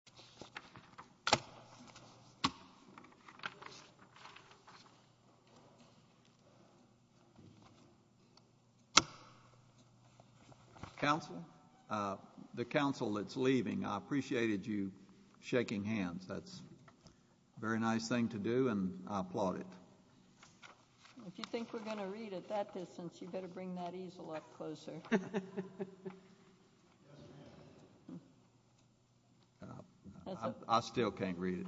al. Council, the Council that's leaving, I appreciated you shaking hands. That's a very nice thing to do, and I applaud it. If you think we're going to read at that distance, you'd better bring that easel up closer. I still can't read it.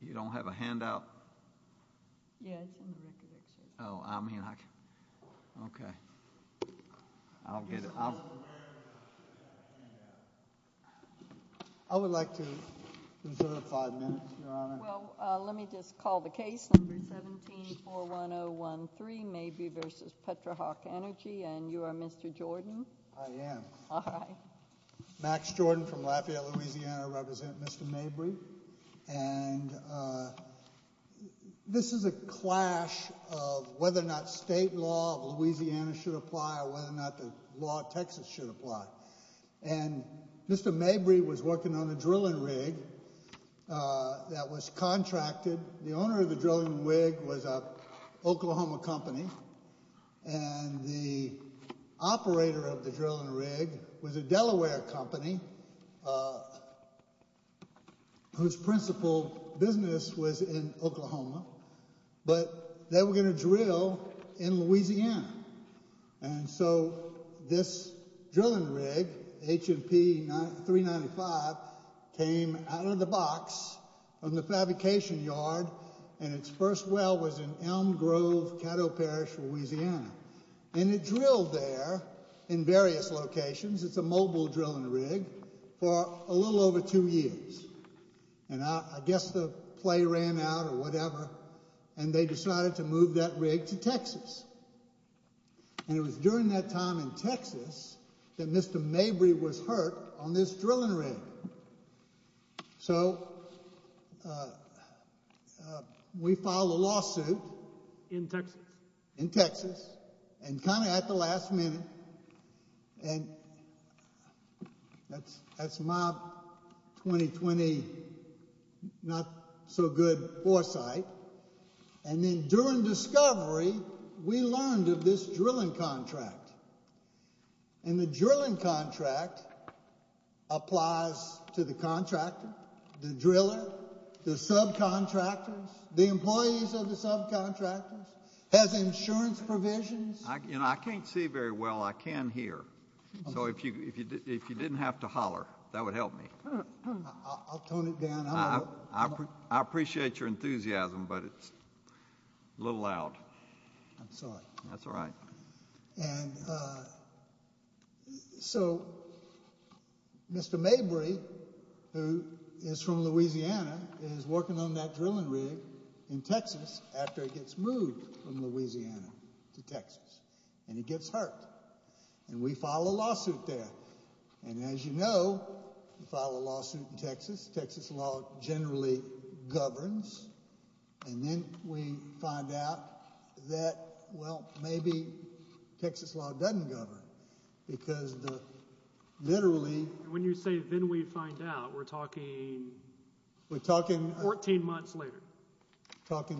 You don't have a handout? Oh, I mean, okay. I'll get it. I would like to reserve five minutes, Your Honor. Well, let me just call the case, number 1741013, Mabry v. Petrohawk Energy, and you are Mr. Jordan? I am. All right. Max Jordan from Lafayette, Louisiana. I represent Mr. Mabry, and this is a clash of whether or not state law of Louisiana should apply or whether or not the law of Texas should apply. And Mr. Mabry was working on a drilling rig that was contracted. The owner of the drilling rig was an Oklahoma company, and the operator of the drilling rig was a Delaware company whose principal business was in Oklahoma, but they were going to And so this drilling rig, H&P 395, came out of the box from the fabrication yard, and its first well was in Elm Grove, Caddo Parish, Louisiana. And it drilled there in various locations. It's a mobile drilling rig for a little over two years, and I guess the play ran out or whatever, and they decided to And it was during that time in Texas that Mr. Mabry was hurt on this drilling rig. So we filed a lawsuit. In Texas. In Texas, and kind of at the last minute, and that's my 2020 not-so-good foresight. And then during discovery, we learned of this drilling contract, and the drilling contract applies to the contractor, the driller, the subcontractors, the employees of the subcontractors, has insurance provisions. I can't see very well. I can hear. So if you didn't have to holler, that would help me. I'll tone it down. I appreciate your enthusiasm, but it's a little loud. I'm sorry. That's all right. And so Mr. Mabry, who is from Louisiana, is working on that drilling rig in Texas after he gets moved from Louisiana to Texas, and he gets hurt. And we filed a lawsuit there, and as you know, we filed a lawsuit in January. And shortly thereafter, the Texas law generally governs, and then we find out that, well, maybe Texas law doesn't govern, because literally. When you say, then we find out, we're talking 14 months later. Talking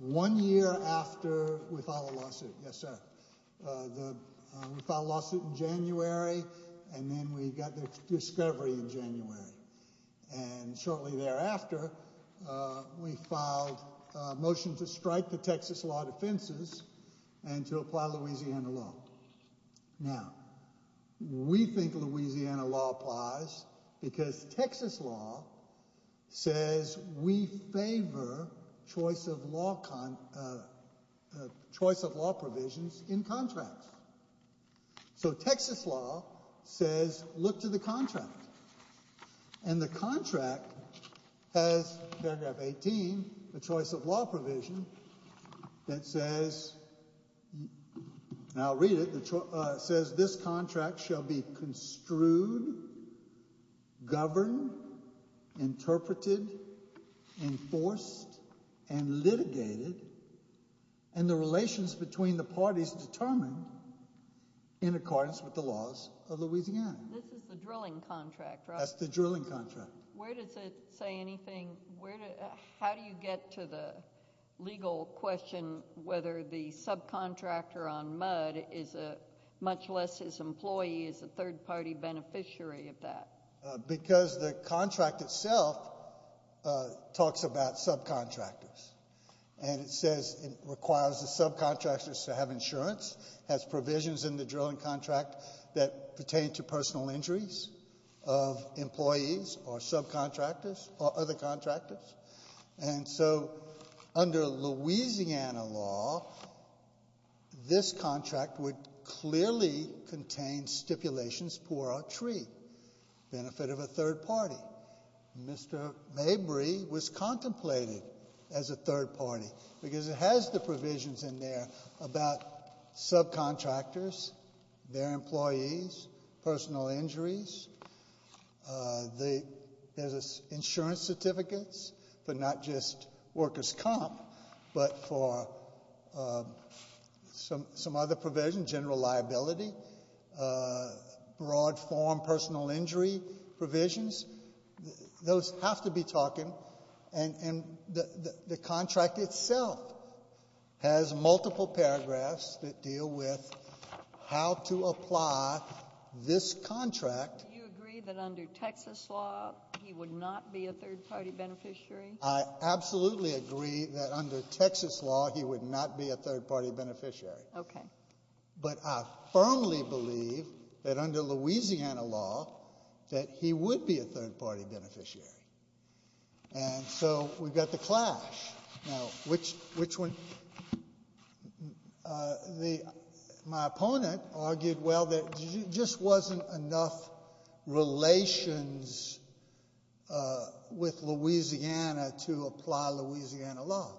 one year after we filed a lawsuit. Yes, sir. We filed a lawsuit in January. And then we got the discovery in January. And shortly thereafter, we filed a motion to strike the Texas law defenses and to apply Louisiana law. Now, we think Louisiana law applies because Texas law says we favor choice of law provisions in contracts. So Texas law says, look to the contract. And the contract has paragraph 18, the choice of law provision, that says, and I'll read it, says this contract shall be construed, governed, interpreted, enforced, and litigated, and the relations between the parties determined in accordance with the laws of Louisiana. This is the drilling contract, right? That's the drilling contract. Where does it say anything? How do you get to the legal question whether the subcontractor on Mudd is a, much less his employee, is a third-party beneficiary of that? Because the contract itself talks about subcontractors. And it says it requires the subcontractors to have insurance, has provisions in the drilling contract that pertain to personal injuries of employees or subcontractors or other contractors. And so under Louisiana law, this contract would clearly contain stipulations pour a tree, benefit of a third party. Mr. Mabry was contemplating as a third party, because it has the provisions in there about subcontractors, their employees, personal injuries. There's insurance certificates for not just workers' comp, but for some other provision, general liability, broad form of personal injury provisions. Those have to be talking. And the contract itself has multiple paragraphs that deal with how to apply this contract. Do you agree that under Texas law he would not be a third party beneficiary? I absolutely agree that under Texas law he would not be a third party beneficiary. Okay. But I firmly believe that under Louisiana law that he would be a third party beneficiary. And so we've got the clash. Now, which one? My opponent argued, well, there just wasn't enough relations with Louisiana to apply Louisiana law.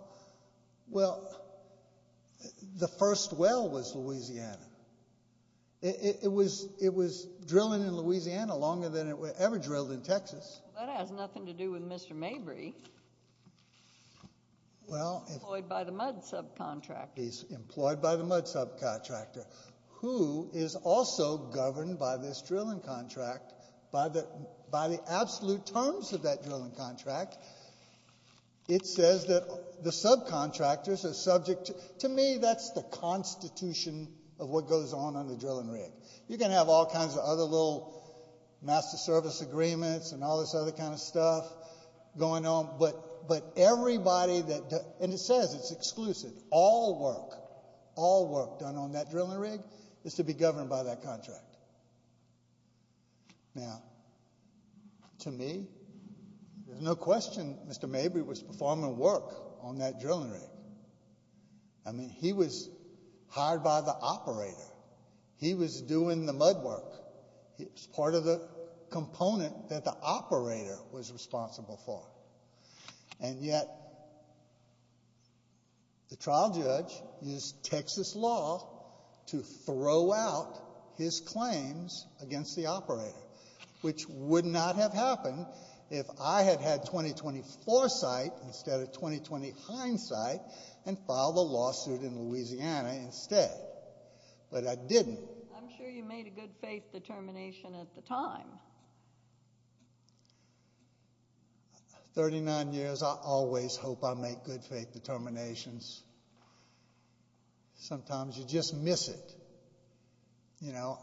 Well, the first well was Louisiana. It was drilling in Louisiana longer than it ever drilled in Texas. That has nothing to do with Mr. Mabry. He's employed by the MUD subcontractor. He's employed by the MUD subcontractor, who is also governed by this drilling contract, by the absolute terms of that drilling contract. It says that the subcontractors are subject to, to me, that's the constitution of what goes on under the drilling rig. You can have all kinds of other little master service agreements and all this other kind of stuff going on, but everybody that, and it says it's exclusive, all work, all work done on that drilling rig is to be governed by that contract. Now, to me, there's no question Mr. Mabry was performing work on that drilling rig. I mean, he was hired by the operator. He was doing the MUD work. It was part of the component that the operator was responsible for. And yet, the trial judge used Texas law to throw out his claims against the operator, which would not have happened if I had had 2024 sight instead of 2020 hindsight and filed a lawsuit in Louisiana instead. But I didn't. I'm sure you made a good faith determination at the time. 39 years, I always hope I make good faith determinations. Sometimes you just miss it. You know,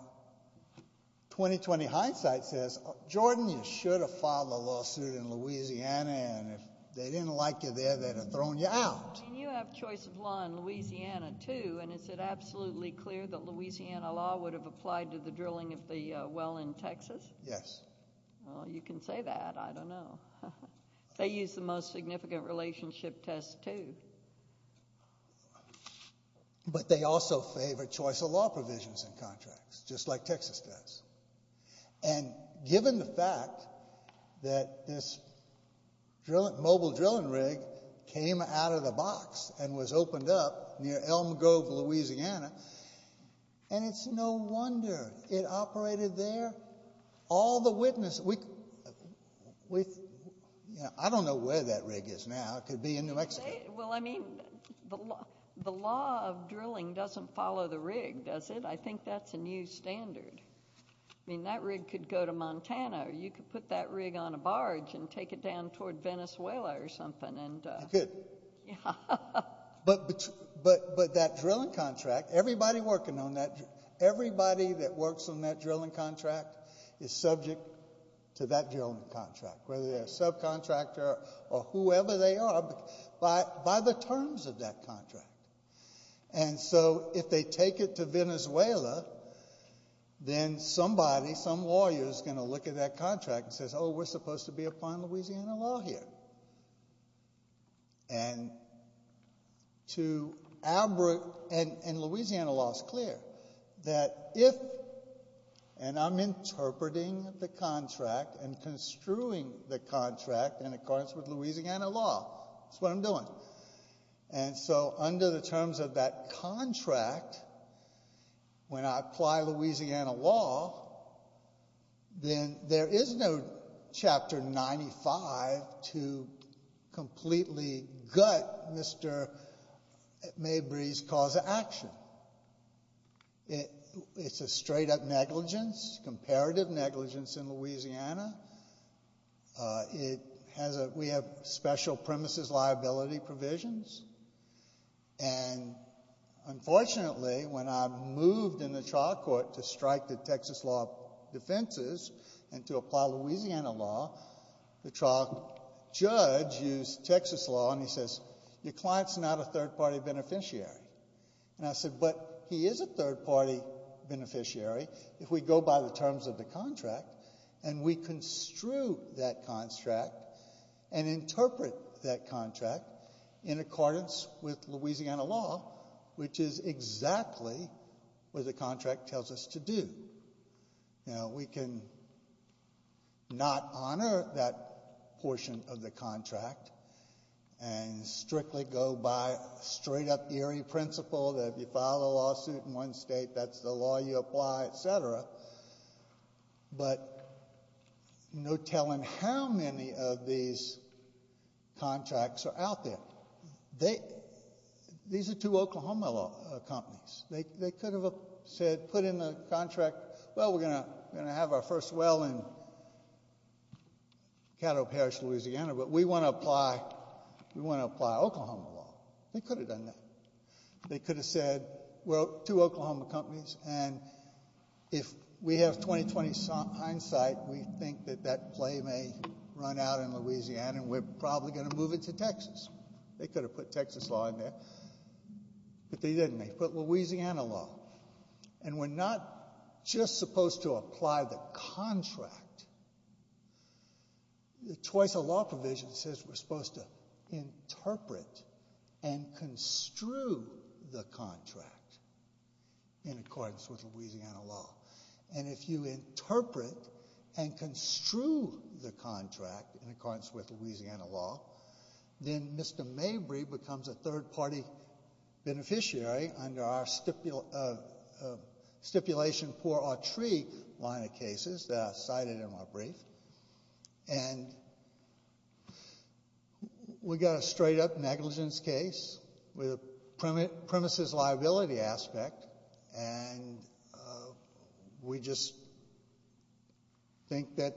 2020 hindsight says, Jordan, you should have filed a lawsuit in Louisiana, and if they didn't like you there, they'd have thrown you out. I mean, you have choice of law in Louisiana too, and is it absolutely clear that Louisiana law would have applied to the drilling of the well in Texas? Yes. Well, you can say that. I don't know. They use the most significant relationship test too. But they also favor choice of law provisions in contracts, just like Texas does. And given the fact that this mobile drilling rig came out of the box and was opened up near Elm Grove, Louisiana, and it's no wonder it operated there. All the witnesses. I don't know where that rig is now. It could be in New Mexico. Well, I mean, the law of drilling doesn't follow the rig, does it? I think that's a new standard. I mean, that rig could go to Montana, or you could put that rig on a barge and take it down toward Venezuela or something. You could. But that drilling contract, everybody working on that, everybody that works on that drilling contract is subject to that drilling contract, whether they're a subcontractor or whoever they are, by the terms of that contract. And so if they take it to Venezuela, then somebody, some lawyer is going to look at that contract and says, oh, we're supposed to be upon Louisiana law here. And Louisiana law is clear that if, and I'm interpreting the contract and construing the contract in accordance with Louisiana law. That's what I'm doing. And so under the terms of that contract, when I apply Louisiana law, then there is no chapter 95 to completely gut Mr. Mabry's cause of action. It's a straight-up negligence, comparative negligence in Louisiana. It has a, we have special premises liability provisions. And unfortunately, when I moved in the trial court to strike the Texas law defenses and to apply Louisiana law, the trial judge used Texas law and he says, your client's not a third-party beneficiary. And I said, but he is a third-party beneficiary if we go by the terms of the contract and we construe that contract and interpret that contract in accordance with Louisiana law, which is exactly what the contract tells us to do. Now, we can not honor that portion of the contract and strictly go by straight-up eerie principle that if you file a lawsuit in one state, that's the law you apply, et cetera. But no telling how many of these contracts are out there. They, these are two Oklahoma companies. They could have said, put in the contract, well, we're going to have our first well in Caddo Parish, Louisiana, but we want to apply, we want to apply Oklahoma law. They could have done that. They could have said, well, two Oklahoma companies and if we have 20-20 hindsight, we think that that play may run out in Louisiana and we're probably going to move it to Texas. They could have put Texas law in there, but they didn't. They put Louisiana law. And we're not just supposed to apply the contract. Twice a law provision says we're supposed to interpret and construe the contract in accordance with Louisiana law. And if you interpret and construe the contract in accordance with Louisiana law, then Mr. Mabry becomes a third party beneficiary under our stipulation poor or tree line of cases that I cited in my brief. And we got a straight-up negligence case with a premises liability aspect and we just think that,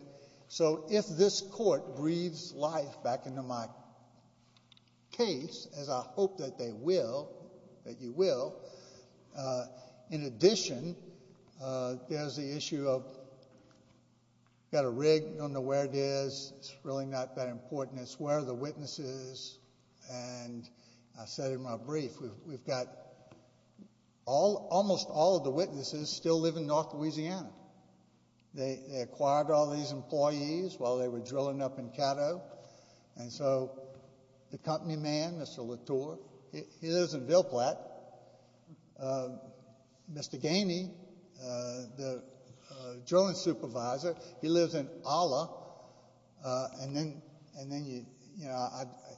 so if this court breathes life back into my case, as I hope that they will, that you will, in addition, there's the issue of got a rig and you don't know where it is. It's really not that important. It's where are the witnesses. And I said in my brief, we've got almost all of the witnesses still live in north Louisiana. They acquired all these employees while they were drilling up in Caddo. And so the company man, Mr. Latour, he lives in Ville Platte. Mr. Ganey, the drilling supervisor, he lives in Ola. And then, you know,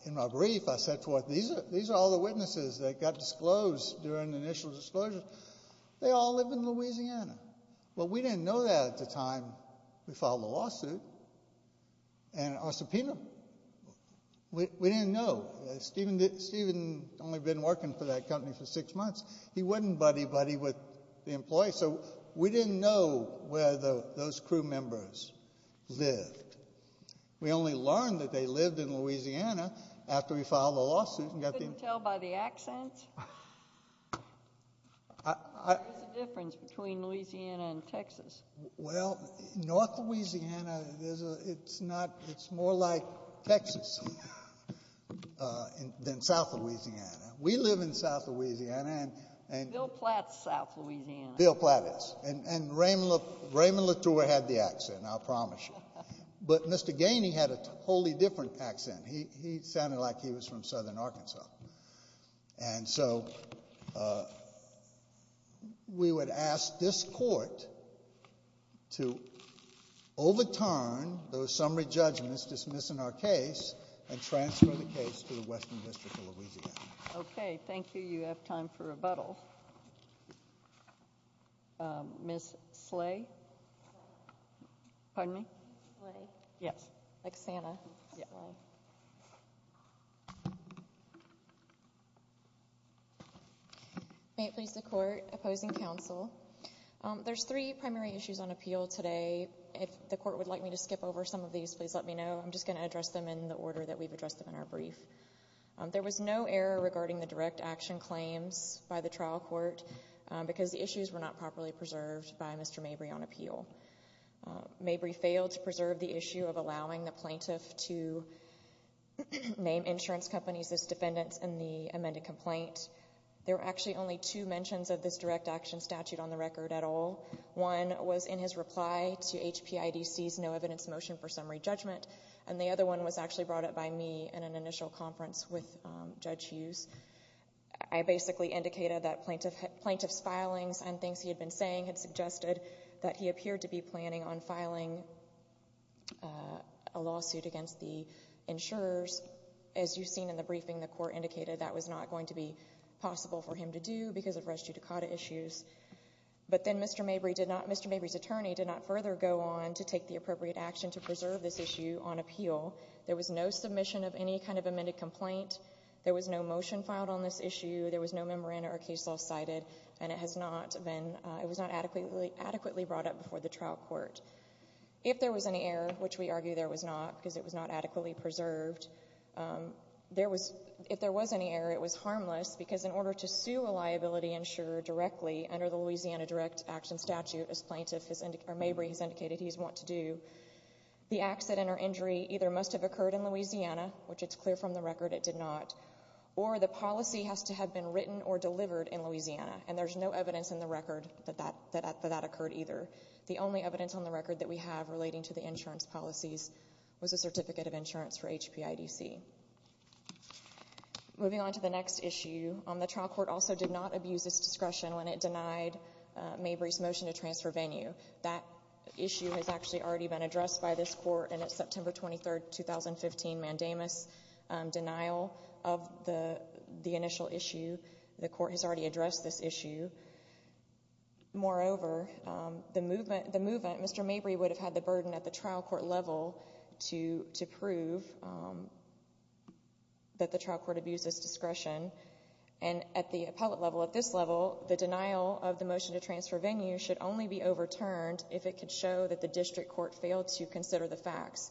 in my brief, I said, these are all the witnesses that got disclosed during the initial disclosures. They all live in Louisiana. Well, we didn't know that at the time we filed the lawsuit and our subpoena. We didn't know. Stephen had only been working for that company for six months. He wasn't buddy-buddy with the employees, so we didn't know where those crew members lived. We only learned that they lived in Louisiana after we filed the lawsuit and got the information. You couldn't tell by the accent? What's the difference between Louisiana and Texas? Well, north Louisiana, it's more like Texas. Than south Louisiana. We live in south Louisiana. Ville Platte's south Louisiana. Ville Platte is. And Raymond Latour had the accent, I'll promise you. But Mr. Ganey had a totally different accent. He sounded like he was from southern Arkansas. And so we would ask this court to overturn those summary decisions. Ms. Slay. Pardon me? Yes. May it please the court, opposing counsel. There's three primary issues on appeal today. If the court would like me to skip over some of these, please let me know. I'm just going to address them in the order that we've addressed them in our brief. There was no error regarding the direct action claims by the trial court because the issues were not properly preserved by Mr. Mabry on appeal. Mabry failed to preserve the issue of allowing the plaintiff to name insurance companies as defendants in the amended complaint. There were actually only two mentions of this direct action statute on the record at all. One was in his reply to HPIDC's no evidence motion for summary in an initial conference with Judge Hughes. I basically indicated that plaintiff's filings and things he had been saying had suggested that he appeared to be planning on filing a lawsuit against the insurers. As you've seen in the briefing, the court indicated that was not going to be possible for him to do because of res judicata issues. But then Mr. Mabry did not, Mr. Mabry's attorney did not further go on to take the appropriate action to preserve this issue on appeal. There was no submission of any kind of amended complaint. There was no motion filed on this issue. There was no memorandum or case law cited and it has not been, it was not adequately brought up before the trial court. If there was any error, which we argue there was not because it was not adequately preserved, there was, if there was any error it was harmless because in order to sue a liability insurer directly under the Louisiana direct action statute as plaintiff, or Mabry has indicated he would want to do, the accident or injury either must have occurred in Louisiana, which it's clear from the record it did not, or the policy has to have been written or delivered in Louisiana. And there's no evidence in the record that that occurred either. The only evidence on the record that we have relating to the insurance policies was a certificate of insurance for HPIDC. Moving on to the next issue, the trial court also did not abuse its discretion when it denied Mabry's motion to transfer Venue. That issue has actually already been addressed by this court and it's September 23rd, 2015 mandamus denial of the initial issue. The court has already addressed this issue. Moreover, the movement, Mr. Mabry would have had the burden at the trial court level to prove that the trial court abused its discretion and at the appellate level, at this level, the denial of the motion to transfer Venue should only be overturned if it could show that the district court failed to consider the facts.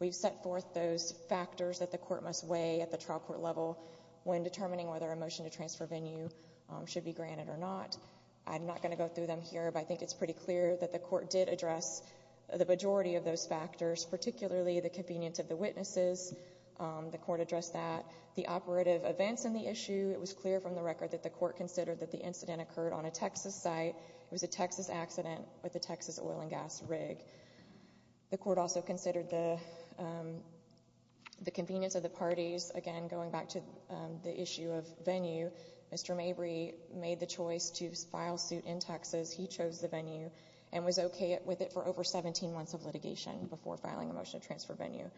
We've set forth those factors that the court must weigh at the trial court level when determining whether a motion to transfer Venue should be granted or not. I'm not going to go through them here, but I think it's pretty clear that the court did address the majority of those factors, particularly the convenience of the witnesses. The court addressed that. The operative events in the issue, it was clear from the record that the court considered that the incident occurred on a Texas site. It was a Texas accident with a Texas oil and gas rig. The court also considered the convenience of the parties. Again, going back to the issue of Venue, Mr. Mabry made the choice to file suit in Texas. He chose the Venue and was okay with it for over 17 months of litigation before filing a motion to transfer Venue.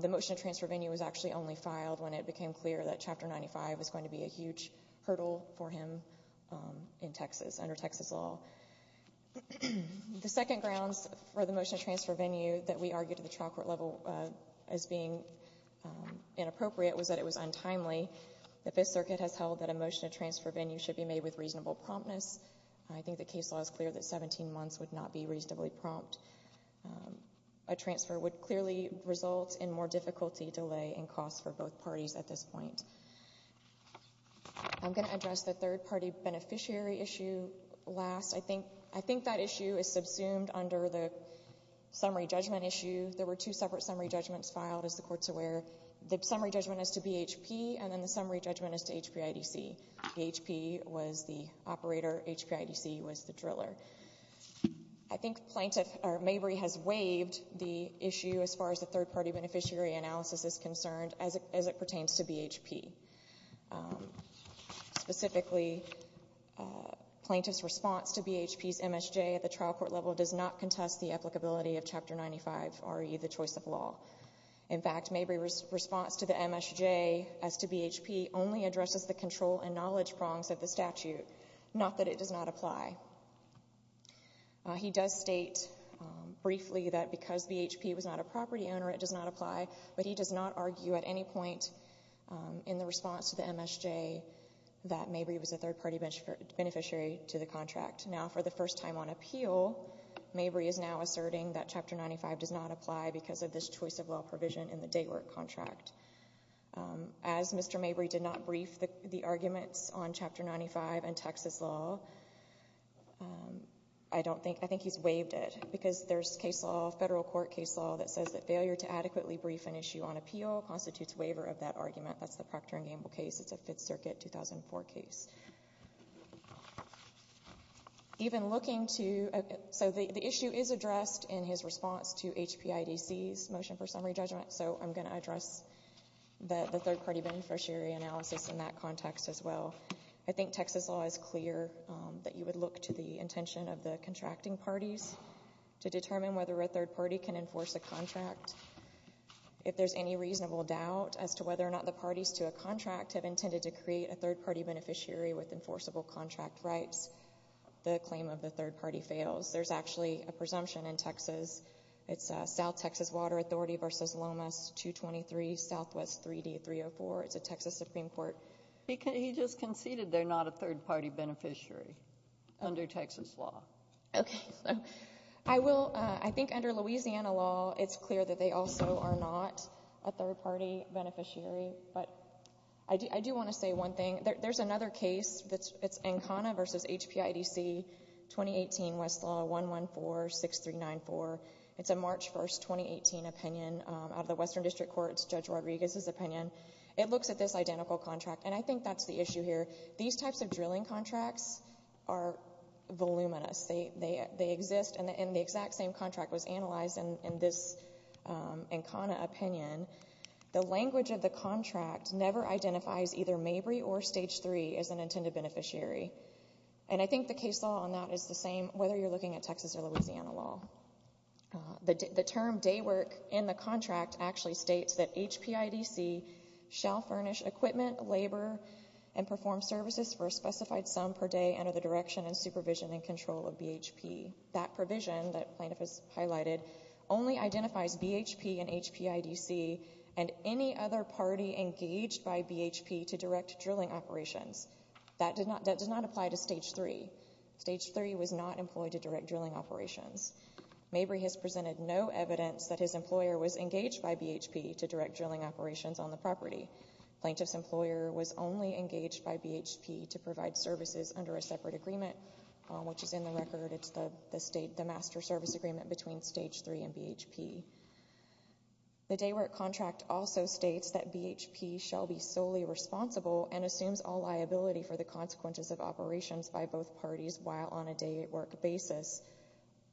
The motion to transfer Venue was actually only filed when it became clear that Chapter 95 was going to be a huge hurdle for him in Texas, under Texas law. The second grounds for the motion to transfer Venue that we argued at the trial court level as being inappropriate was that it was untimely. The Fifth Circuit has held that a motion to transfer Venue should be made with reasonable promptness. I think the case law is clear that 17 months would not be reasonably prompt. A transfer would clearly result in more difficulty, delay, and cost for both parties at this point. I'm going to address the third-party beneficiary issue last. I think that issue is subsumed under the summary judgment issue. There were two separate summary judgments filed, as the court is aware. The summary judgment is to BHP, and then the summary judgment is to HPIDC. BHP was the operator. HPIDC was the driller. I think Mabry has waived the issue as far as the third-party beneficiary analysis is concerned as it pertains to BHP. Specifically, plaintiff's response to BHP's MSJ at the trial court level does not contest the applicability of Chapter 95, i.e., the choice of law. In fact, Mabry's response to the MSJ as to BHP only addresses the control and knowledge prongs of the statute, not that it does not apply. He does state briefly that because BHP was not a property owner, it does not apply, but he does not argue at any point in the response to the MSJ that Mabry was a third-party beneficiary to the contract. Now, for the first time on appeal, Mabry is now asserting that Chapter 95 does not apply because of this choice of law provision in the day work contract. As Mr. Mabry did not brief the arguments on Chapter 95 and Texas law, I think he's waived it because there's case law, federal court case law, that says that failure to adequately brief an issue on appeal constitutes waiver of that argument. That's the Procter & Gamble case. It's a Fifth Circuit 2004 case. Even looking to—so the issue is addressed in his response to HPIDC's motion for summary judgment, so I'm going to address the third-party beneficiary analysis in that context as well. I think Texas law is clear that you would look to the intention of the contracting parties to determine whether a third party can enforce a contract. If there's any reasonable doubt as to whether or not the parties to a contract have intended to create a third-party beneficiary with enforceable contract rights, the claim of the third party fails. There's actually a presumption in Texas. It's South Texas Water Authority v. Lomas 223 SW 3D 304. It's a Texas Supreme Court— He just conceded they're not a third-party beneficiary under Texas law. Okay. I think under Louisiana law, it's clear that they also are not a third-party beneficiary, but I do want to say one thing. There's another case. It's Ancona v. HPIDC 2018 Westlaw 1146394. It's a March 1, 2018 opinion out of the Western District Courts, Judge Rodriguez's opinion. It looks at this identical contract, and I think that's the issue here. These types of drilling contracts are voluminous. They exist, and the exact same contract was analyzed in this Ancona opinion. The language of the contract never identifies either Mabry or Stage 3 as an intended beneficiary. And I think the case law on that is the same whether you're looking at Texas or Louisiana law. The term day work in the contract actually states that HPIDC shall furnish equipment, labor, and perform services for a specified sum per day under the direction and supervision and control of BHP. That provision that Plaintiff has highlighted only identifies BHP and HPIDC and any other party engaged by BHP to direct drilling operations. That does not apply to Stage 3. Stage 3 was not employed to direct drilling operations. Mabry has presented no evidence that his employer was engaged by BHP to direct drilling operations on the property. Plaintiff's employer was only engaged by BHP to provide services under a separate agreement, which is in the record. It's the master service agreement between Stage 3 and BHP. The day work contract also states that BHP shall be solely responsible and assumes all liability for the consequences of operations by both parties while on a day work basis.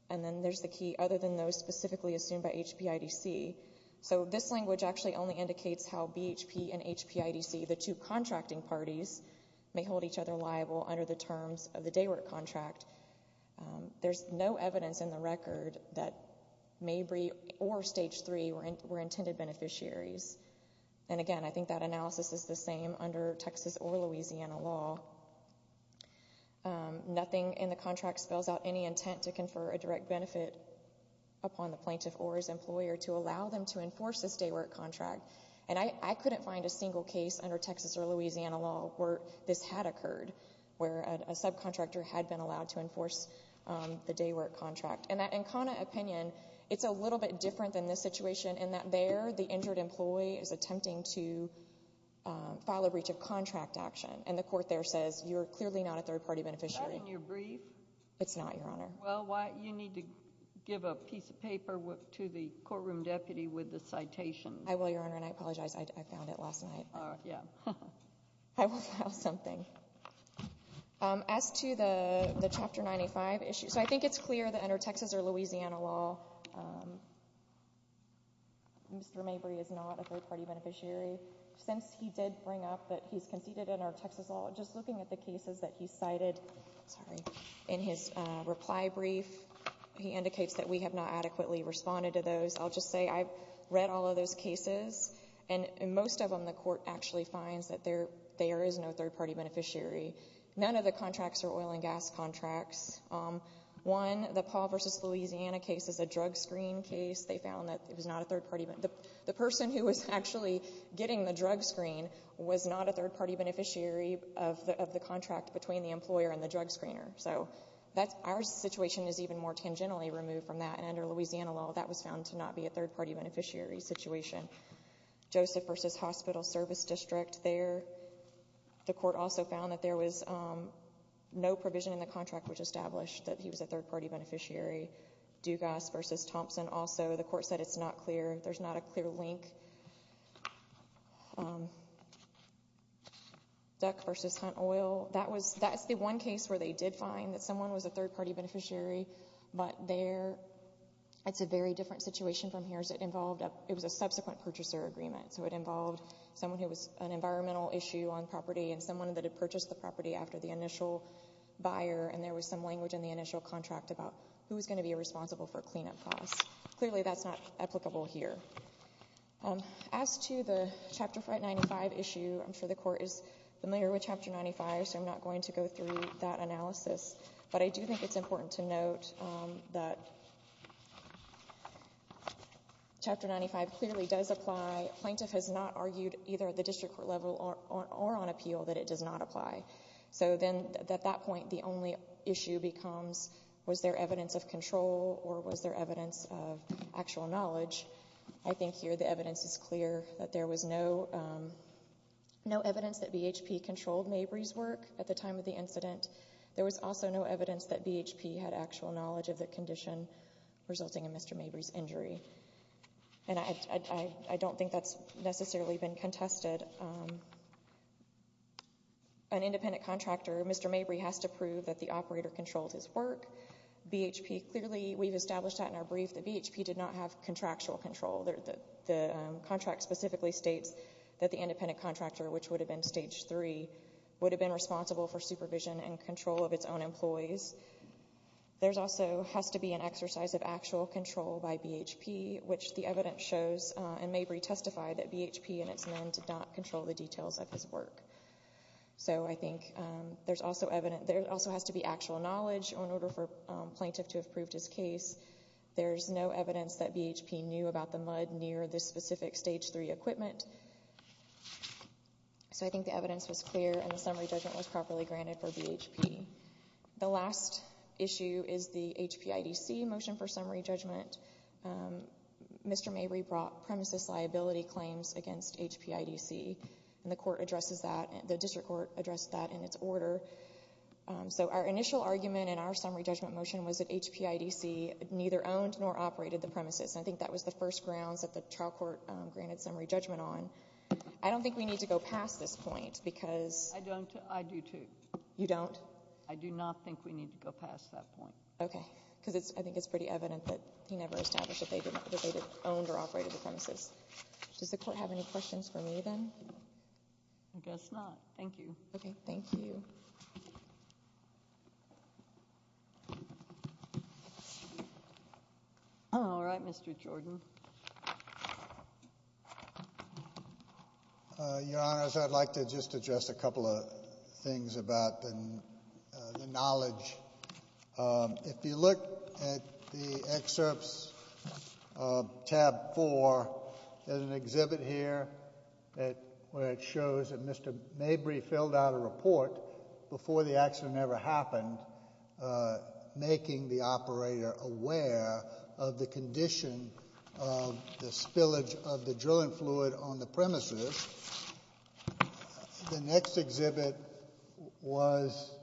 And then there's the key, other than those specifically assumed by HPIDC. So this language actually only indicates how BHP and HPIDC, the two contracting parties, may hold each other liable under the terms of the day work contract. There's no evidence in the record that Mabry or Stage 3 were intended beneficiaries. And again, I think that analysis is the same under Texas or Louisiana law. Nothing in the contract spells out any intent to confer a direct benefit upon the Plaintiff or his employer to allow them to enforce this day work contract. And I couldn't find a single case under Texas or Louisiana law where this had occurred, where a subcontractor had been allowed to enforce the day work contract. And that Ancona opinion, it's a little bit different than this situation in that there, the injured employee is attempting to file a breach of contract action, and the court there says you're clearly not a third-party beneficiary. Is that in your brief? It's not, Your Honor. Well, you need to give a piece of paper to the courtroom deputy with the citation. I will, Your Honor, and I apologize. I found it last night. Yeah. I will file something. As to the Chapter 95 issue, so I think it's clear that under Texas or Louisiana law, Mr. Mabry is not a third-party beneficiary. Since he did bring up that he's conceded under Texas law, just looking at the cases that he cited in his reply brief, he indicates that we have not adequately responded to those. I'll just say I've read all of those cases, and most of them the court actually finds that there is no third-party beneficiary. None of the contracts are oil and gas contracts. One, the Paul v. Louisiana case is a drug screen case. They found that it was not a third-party beneficiary. The person who was actually getting the drug screen was not a third-party beneficiary of the contract between the employer and the drug screener. So our situation is even more tangentially removed from that, and under Louisiana law that was found to not be a third-party beneficiary situation. Joseph v. Hospital Service District there, the court also found that there was no provision in the contract which established that he was a third-party beneficiary. Dugas v. Thompson also, the court said it's not clear. There's not a clear link. Duck v. Hunt Oil, that's the one case where they did find that someone was a third-party beneficiary, but it's a very different situation from here. It was a subsequent purchaser agreement, so it involved someone who was an environmental issue on property and someone that had purchased the property after the initial buyer, and there was some language in the initial contract about who was going to be responsible for cleanup costs. Clearly that's not applicable here. As to the Chapter 95 issue, I'm sure the court is familiar with Chapter 95, so I'm not going to go through that analysis, but I do think it's important to note that Chapter 95 clearly does apply. A plaintiff has not argued either at the district court level or on appeal that it does not apply. So then at that point the only issue becomes was there evidence of control or was there evidence of actual knowledge. I think here the evidence is clear, that there was no evidence that BHP controlled Mabry's work at the time of the incident. There was also no evidence that BHP had actual knowledge of the condition resulting in Mr. Mabry's injury, and I don't think that's necessarily been contested. An independent contractor, Mr. Mabry, has to prove that the operator controlled his work. Clearly we've established that in our brief that BHP did not have contractual control. The contract specifically states that the independent contractor, which would have been Stage 3, would have been responsible for supervision and control of its own employees. There also has to be an exercise of actual control by BHP, which the evidence shows in Mabry testified that BHP and its men did not control the details of his work. So I think there also has to be actual knowledge in order for a plaintiff to have proved his case. There's no evidence that BHP knew about the mud near the specific Stage 3 equipment. So I think the evidence was clear and the summary judgment was properly granted for BHP. The last issue is the HPIDC motion for summary judgment. Mr. Mabry brought premises liability claims against HPIDC, and the district court addressed that in its order. So our initial argument in our summary judgment motion was that HPIDC neither owned nor operated the premises. I think that was the first grounds that the trial court granted summary judgment on. I don't think we need to go past this point because— I do, too. You don't? I do not think we need to go past that point. Okay, because I think it's pretty evident that he never established that they owned or operated the premises. Does the court have any questions for me, then? I guess not. Thank you. Okay, thank you. All right, Mr. Jordan. Your Honors, I'd like to just address a couple of things about the knowledge. If you look at the excerpts of tab four, there's an exhibit here where it shows that Mr. Mabry filled out a report before the accident ever happened, making the operator aware of the condition of the spillage of the drilling fluid on the premises. The next exhibit was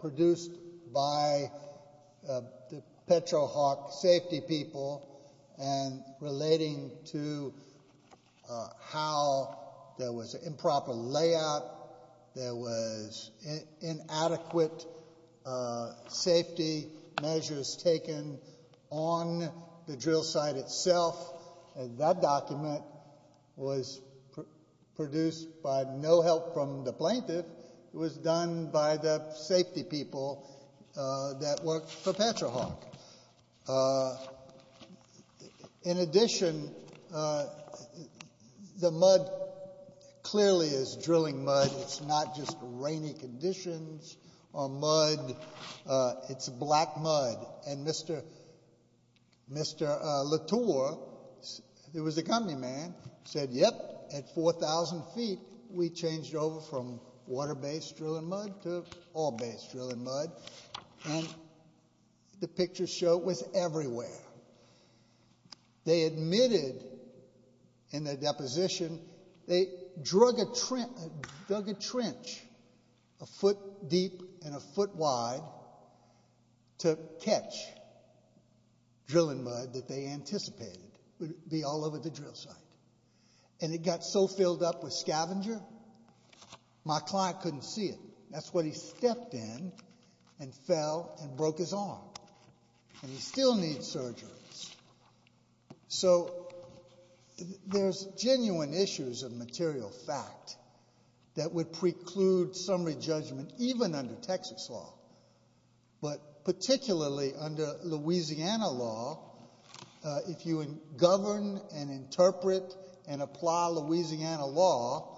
produced by the Petrohawk safety people, and relating to how there was improper layout, there was inadequate safety measures taken on the drill site itself, and that document was produced by no help from the plaintiff. It was done by the safety people that worked for Petrohawk. In addition, the mud clearly is drilling mud. It's not just rainy conditions or mud. It's black mud. And Mr. Latour, who was the company man, said, Yep, at 4,000 feet, we changed over from water-based drilling mud to oil-based drilling mud. And the pictures show it was everywhere. They admitted in their deposition, they dug a trench a foot deep and a foot wide to catch drilling mud that they anticipated would be all over the drill site. And it got so filled up with scavenger, my client couldn't see it. That's when he stepped in and fell and broke his arm. And he still needs surgery. So, there's genuine issues of material fact that would preclude summary judgment even under Texas law. But particularly under Louisiana law, if you govern and interpret and apply Louisiana law,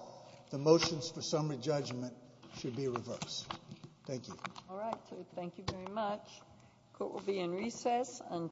the motions for summary judgment should be reversed. Thank you. All right. Thank you very much. Court will be in recess until...